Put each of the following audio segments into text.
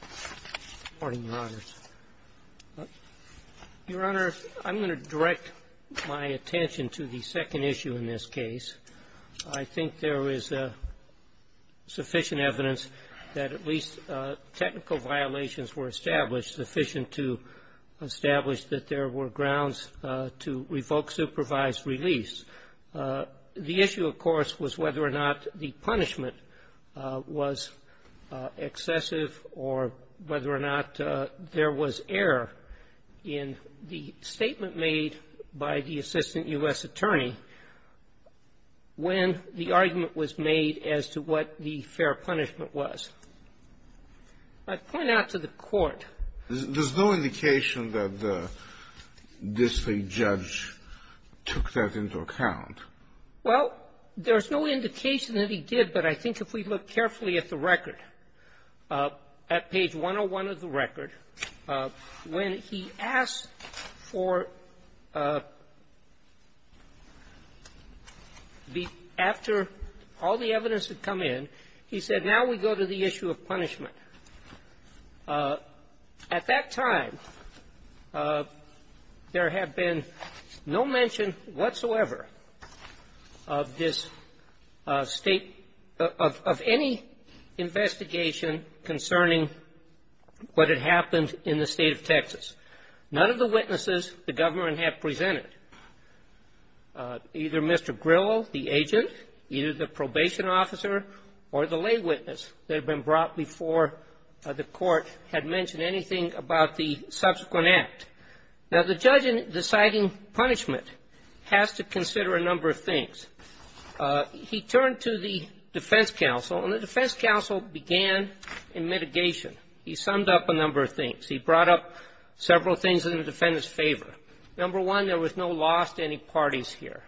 Good morning, Your Honors. Your Honor, I'm going to direct my attention to the second issue in this case. I think there is sufficient evidence that at least technical violations were established sufficient to establish that there were grounds to revoke supervised release. The issue, of course, was whether or not the punishment was excessive or whether or not there was error in the statement made by the assistant U.S. attorney when the argument was made as to what the fair punishment was. I'd point out to the Court — Well, there's no indication that he did, but I think if we look carefully at the record, at page 101 of the record, when he asked for the — after all the evidence had come in, he said, now we go to the issue of punishment. At that time, there had been no mention whatsoever of this state — of any investigation concerning what had happened in the state of Texas. None of the witnesses the government had presented, either Mr. Grillo, the agent, either the probation officer, or the lay witness that had been brought before the Court, had mentioned anything about the subsequent act. Now, the judge in deciding punishment has to consider a number of things. He turned to the defense counsel, and the defense counsel began in mitigation. He summed up a number of things. He brought up several things in the defendant's favor. Number one, there was no loss to any parties here.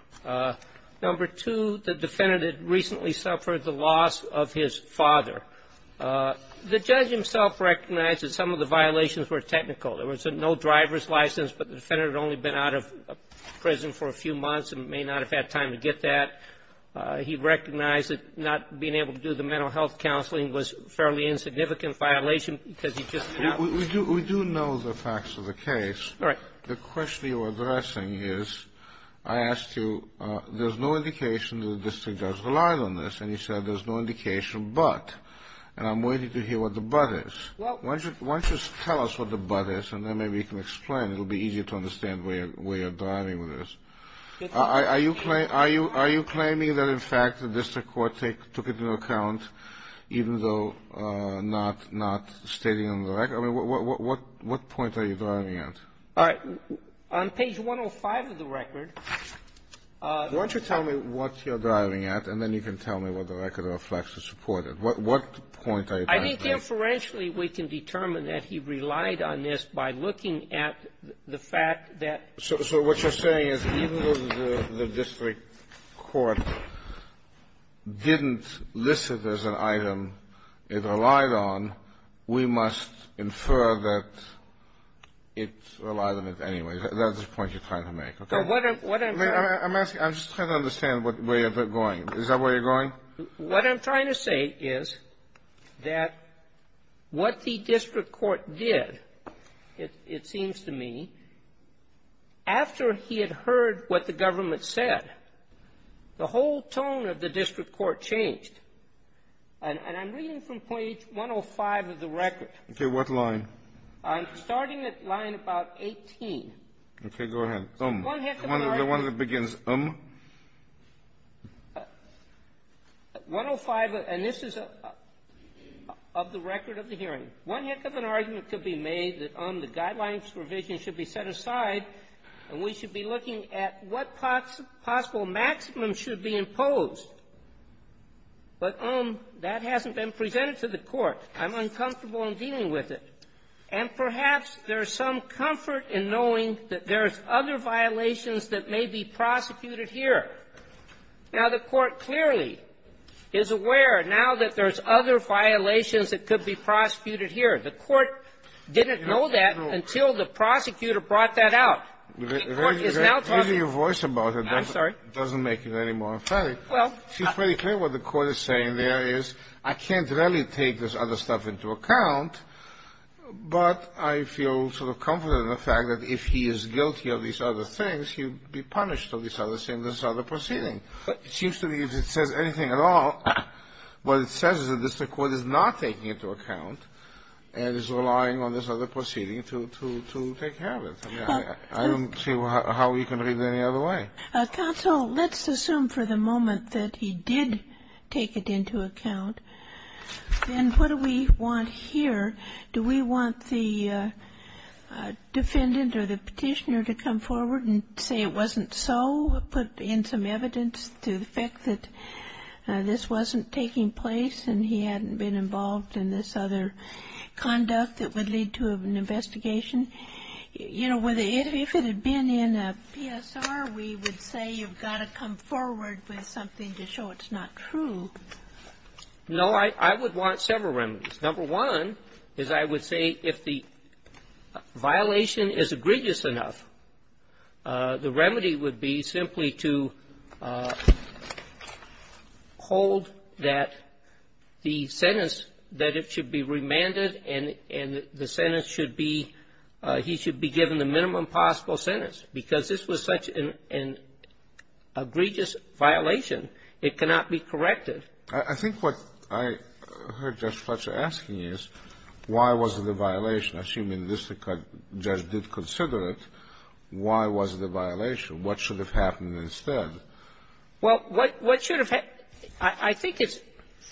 Number two, the defendant had recently suffered the loss of his father. The judge himself recognized that some of the violations were technical. There was no driver's license, but the defendant had only been out of prison for a few months and may not have had time to get that. He recognized that not being able to do the mental health counseling was a fairly insignificant violation because he just announced it. We do know the facts of the case. All right. The question you're addressing is, I asked you, there's no indication that the district judge relied on this. And you said, there's no indication, but. And I'm waiting to hear what the but is. Well Why don't you tell us what the but is, and then maybe you can explain. It'll be easier to understand where you're driving with this. Are you claiming that, in fact, the district court took it into account, even though not stating on the record? I mean, what point are you driving at? And then you can tell me what the record reflects to support it. What point are you trying to make? I think inferentially we can determine that he relied on this by looking at the fact that. So what you're saying is even though the district court didn't list it as an item it relied on, we must infer that it relied on it anyway. That's the point you're trying to make, okay? Well, what I'm trying to do is I'm asking, I'm just trying to understand where you're going. Is that where you're going? What I'm trying to say is that what the district court did, it seems to me, after he had heard what the government said, the whole tone of the district court changed. And I'm reading from page 105 of the record. Okay. What line? I'm starting at line about 18. Okay. Go ahead. So one heck of an argument to be made that, um, the guidelines provision should be set aside and we should be looking at what possible maximum should be imposed, but, um, that hasn't been presented to the court. I'm uncomfortable in dealing with it. And perhaps there's some comfort in knowing that there's other violations that may be prosecuted here. Now, the court clearly is aware now that there's other violations that could be prosecuted here. The court didn't know that until the prosecutor brought that out. The court is now talking to you. Raising your voice about it doesn't make it any more emphatic. Well. It's pretty clear what the court is saying there is, I can't really take this other into account, but I feel sort of comforted in the fact that if he is guilty of these other things, he would be punished for these other things, this other proceeding. It seems to me if it says anything at all, what it says is that the district court is not taking into account and is relying on this other proceeding to take care of it. I don't see how we can read it any other way. Counsel, let's assume for the moment that he did take it into account. Then what do we want here? Do we want the defendant or the petitioner to come forward and say it wasn't so, put in some evidence to the fact that this wasn't taking place and he hadn't been involved in this other conduct that would lead to an investigation? You know, if it had been in a PSR, we would say you've got to come forward with something to show it's not true. No, I would want several remedies. Number one is I would say if the violation is egregious enough, the remedy would be simply to hold that the sentence that it should be remanded and the sentence should be, he should be given the minimum possible sentence because this was such an egregious violation. It cannot be corrected. I think what I heard Judge Fletcher asking is why was it a violation? Assuming this judge did consider it, why was it a violation? What should have happened instead? Well, what should have happened? I think it's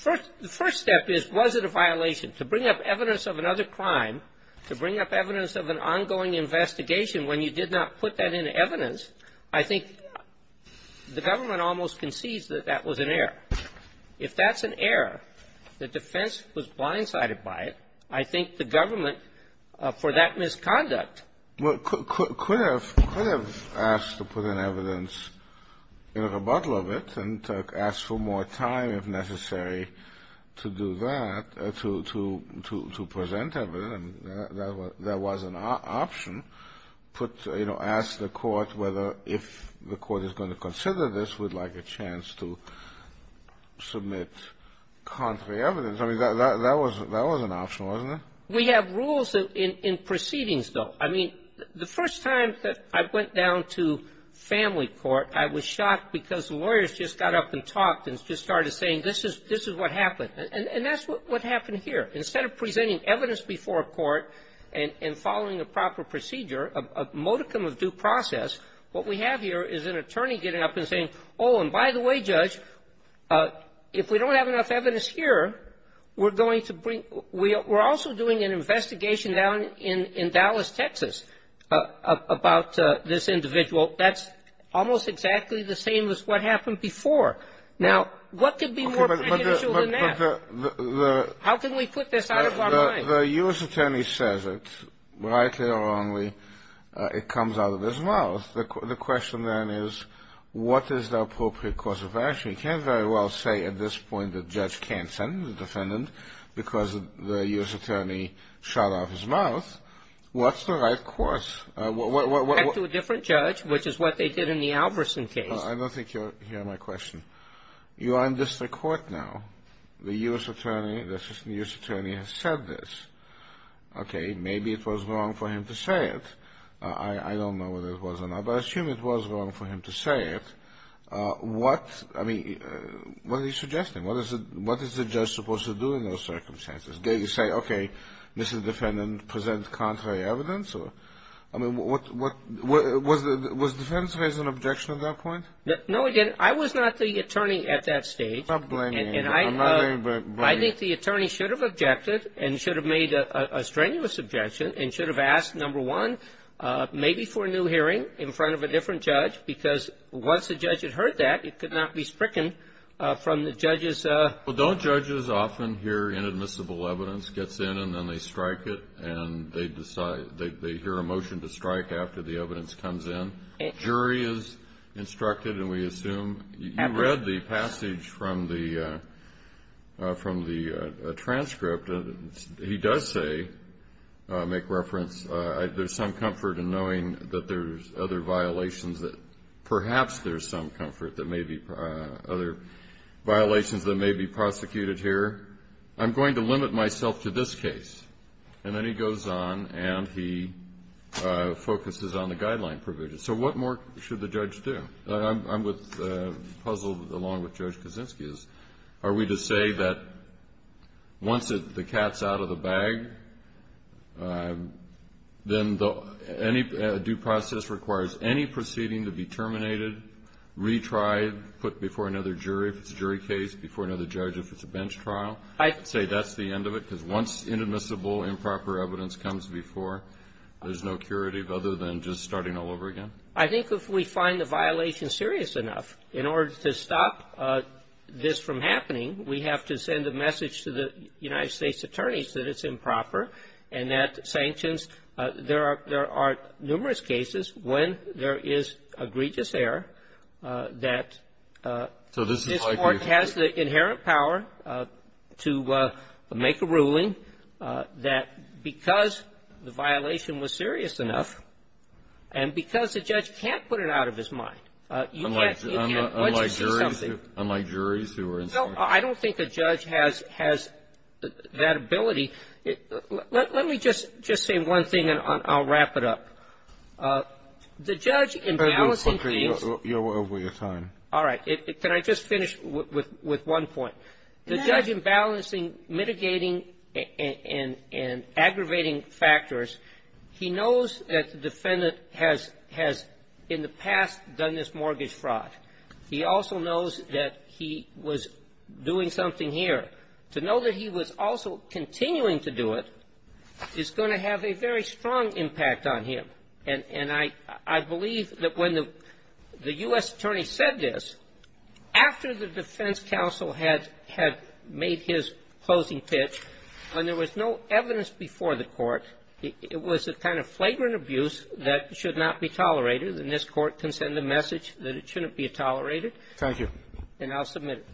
the first step is was it a violation? To bring up evidence of another crime, to bring up evidence of an ongoing investigation when you did not put that in evidence, I think the government almost concedes that that was an error. If that's an error, the defense was blindsided by it, I think the government, for that misconduct Could have asked to put in evidence in a rebuttal of it and asked for more time if necessary to do that, to present evidence, that was an option, put, you know, asked the court whether if the court is going to consider this, would like a chance to submit contrary evidence. I mean, that was an option, wasn't it? We have rules in proceedings, though. I mean, the first time that I went down to family court, I was shocked because the lawyers just got up and talked and just started saying, this is what happened. And that's what happened here. Instead of presenting evidence before a court and following a proper procedure, a modicum of due process, what we have here is an attorney getting up and saying, oh, and by the way, Judge, if we don't have enough evidence here, we're going to bring we're also doing an investigation down in Dallas, Texas, about this individual. That's almost exactly the same as what happened before. Now, what could be more beneficial than that? How can we put this out of our mind? The U.S. attorney says it, rightly or wrongly, it comes out of his mouth. The question then is, what is the appropriate course of action? You can't very well say at this point that Judge can't sentence the defendant because the U.S. attorney shut off his mouth. What's the right course? What, what, what, what? To a different judge, which is what they did in the Albertson case. I don't think you're hearing my question. You are in district court now. The U.S. attorney, the assistant U.S. attorney has said this. Okay, maybe it was wrong for him to say it. I don't know whether it was or not, but I assume it was wrong for him to say it. What, I mean, what are you suggesting? What is it, what is the judge supposed to do in those circumstances? Do you say, okay, this is defendant present contrary evidence or? I mean, what, what, what, was the, was the defense raise an objection at that point? No, it didn't. I was not the attorney at that stage. Stop blaming me, I'm not blaming you. I think the attorney should have objected and should have made a strenuous objection and should have asked, number one, maybe for a new hearing in front of a different judge because once the judge had heard that, it could not be stricken from the judge's. Well, don't judges often hear inadmissible evidence gets in and then they strike it and they decide, they hear a motion to strike after the evidence comes in? Jury is instructed and we assume, you read the passage from the, from the transcript. He does say, make reference, there's some comfort in knowing that there's other violations that perhaps there's some comfort that maybe other violations that may be prosecuted here. I'm going to limit myself to this case. And then he goes on and he focuses on the guideline provisions. So what more should the judge do? I'm with, puzzled along with Judge Kaczynski is, are we to say that once the cat's out of the bag, then any due process requires any proceeding to be terminated, retried, put before another jury, if it's a jury case, before another judge if it's a bench trial, I'd say that's the end of it. Because once inadmissible, improper evidence comes before, there's no curative other than just starting all over again. I think if we find the violation serious enough, in order to stop this from happening, we have to send a message to the United States attorneys that it's improper and that sanctions, there are, there are numerous cases when there is egregious error that this Court has the inherent power to make a ruling that because the violation was serious enough and because the judge can't put it out of his mind, you can't do something. Unlike juries who are in the court. I don't think a judge has that ability. Let me just say one thing and I'll wrap it up. The judge in balancing case. You're over your time. All right. Can I just finish with one point? The judge in balancing mitigating and aggravating factors, he knows that the defendant has in the past done this mortgage fraud. He also knows that he was doing something here. To know that he was also continuing to do it is going to have a very strong impact on him. And I believe that when the U.S. attorney said this, after the defense counsel had made his closing pitch, when there was no evidence before the court, it was a kind of flagrant abuse that should not be tolerated. And this Court can send the message that it shouldn't be tolerated. Thank you. And I'll submit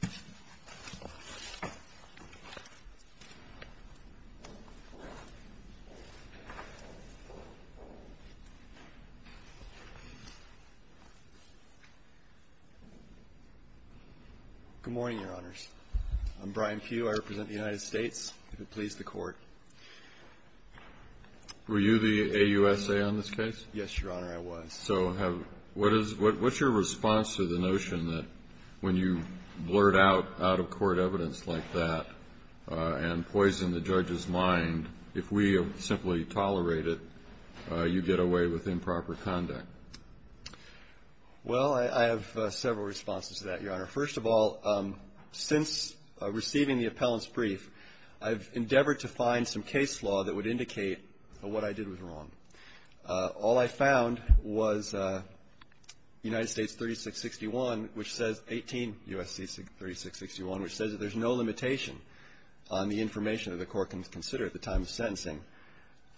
it. Good morning, Your Honors. I'm Brian Pugh. I represent the United States. If it please the Court. Were you the AUSA on this case? Yes, Your Honor, I was. So what's your response to the notion that when you blurt out out-of-court evidence like that and poison the judge's mind, if we simply tolerate it, you get away with improper conduct? Well, I have several responses to that, Your Honor. First of all, since receiving the appellant's brief, I've endeavored to find some case law that would indicate that what I did was wrong. All I found was United States 3661, which says 18 U.S.C. 3661, which says that there's no limitation on the information that the Court can consider at the time of sentencing.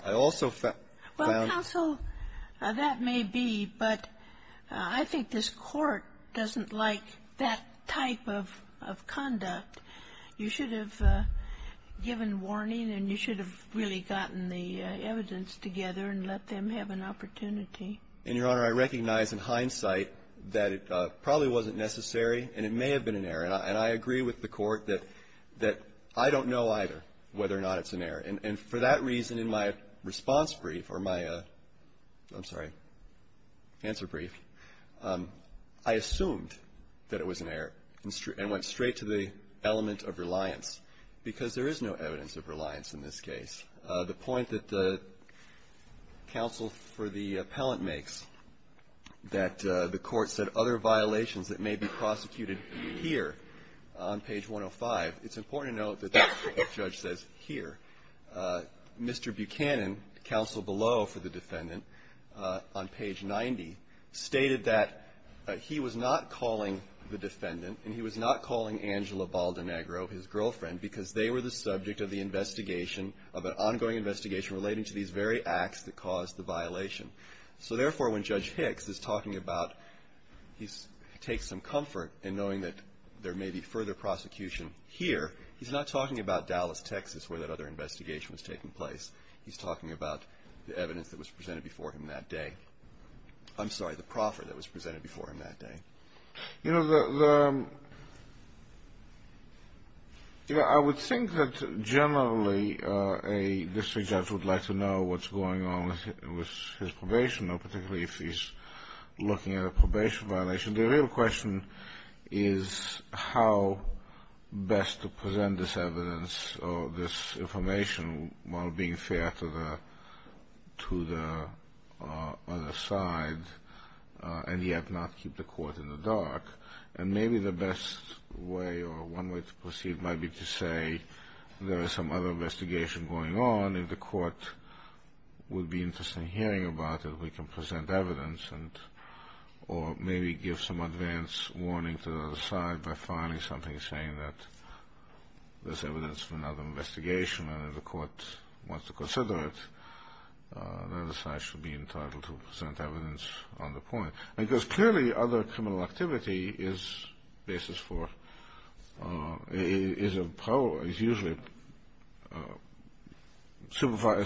I also found that the court can consider that there's no limitation on the information Well, counsel, that may be, but I think this Court doesn't like that type of conduct. You should have given warning and you should have really gotten the evidence together and let them have an opportunity. And, Your Honor, I recognize in hindsight that it probably wasn't necessary and it may have been an error. And I agree with the Court that I don't know either whether or not it's an error. And for that reason, in my response brief, or my, I'm sorry, answer brief, I assumed that it was an error and went straight to the element of reliance, because there is no evidence of reliance in this case. The point that counsel for the appellant makes, that the Court said other violations that may be prosecuted here on page 105, it's important to note that that's what the judge says here. Mr. Buchanan, counsel below for the defendant, on page 90, stated that he was not calling the defendant and he was not calling Angela Baldinegro, his girlfriend, because they were the subject of the investigation, of an ongoing investigation relating to these very acts that caused the violation. So, therefore, when Judge Hicks is talking about, he takes some comfort in knowing that there may be further prosecution here. He's not talking about Dallas, Texas, where that other investigation was taking place. He's talking about the evidence that was presented before him that day. I'm sorry, the proffer that was presented before him that day. You know, I would think that generally a district judge would like to know what's his probation, particularly if he's looking at a probation violation. The real question is how best to present this evidence or this information while being fair to the other side and yet not keep the Court in the dark. And maybe the best way or one way to proceed might be to say there is some other investigation going on. If the Court would be interested in hearing about it, we can present evidence or maybe give some advance warning to the other side by filing something saying that there's evidence for another investigation and if the Court wants to consider it, the other side should be entitled to present evidence on the point. Because clearly other criminal activity is usually a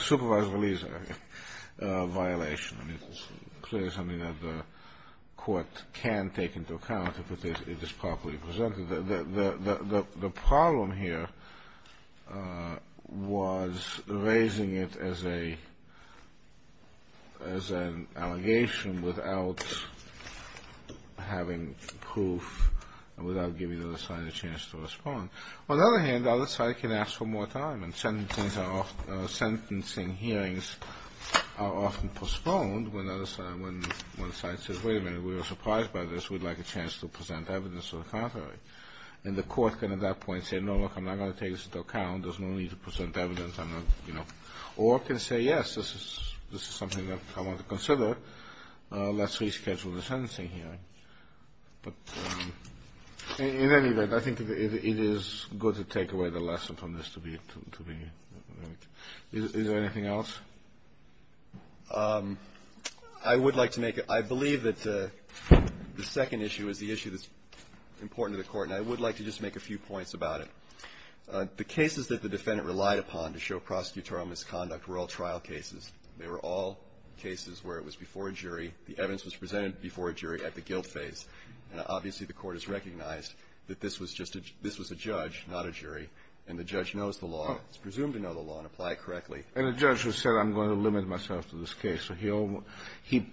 supervised release violation. I mean, it's clearly something that the Court can take into account if it is properly presented. The problem here was raising it as an allegation without having proof, without giving the other side a chance to respond. On the other hand, the other side can ask for more time and sentencing hearings are often postponed when the other side says, wait a minute, we were surprised by this, we'd like a chance to present evidence to the contrary. And the Court can at that point say, no, look, I'm not going to take this into account, there's no need to present evidence, I'm not, you know. Or it can say, yes, this is something that I want to consider, let's reschedule the sentencing hearing. But in any event, I think it is good to take away the lesson from this to be, to be, is there anything else? I would like to make a, I believe that the second issue is the issue that's important to the Court, and I would like to just make a few points about it. The cases that the defendant relied upon to show prosecutorial misconduct were all trial cases. They were all cases where it was before a jury, the evidence was presented before a jury at the guilt phase. And obviously the Court has recognized that this was just a, this was a judge, not a jury, and the judge knows the law, is presumed to know the law and apply it correctly. And the judge has said, I'm going to limit myself to this case. So he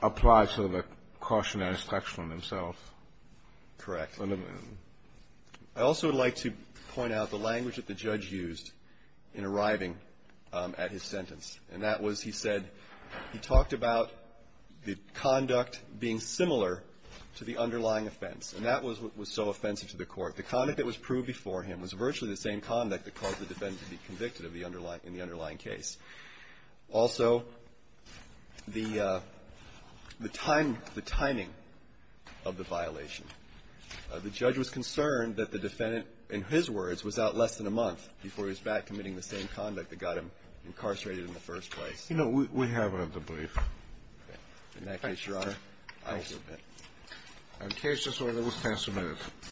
applied sort of a cautionary structure on himself. Correct. I also would like to point out the language that the judge used in arriving at his sentence. And that was, he said, he talked about the conduct being similar to the underlying offense. And that was what was so offensive to the Court. The conduct that was proved before him was virtually the same conduct that caused the defendant to be convicted of the underlying, in the underlying case. Also, the time, the timing of the violation. The judge was concerned that the defendant, in his words, was out less than a month before he was back committing the same conduct that got him incarcerated in the first place. You know, we have a debrief. Okay. In that case, Your Honor, I will submit. And in case this order was passed amicably.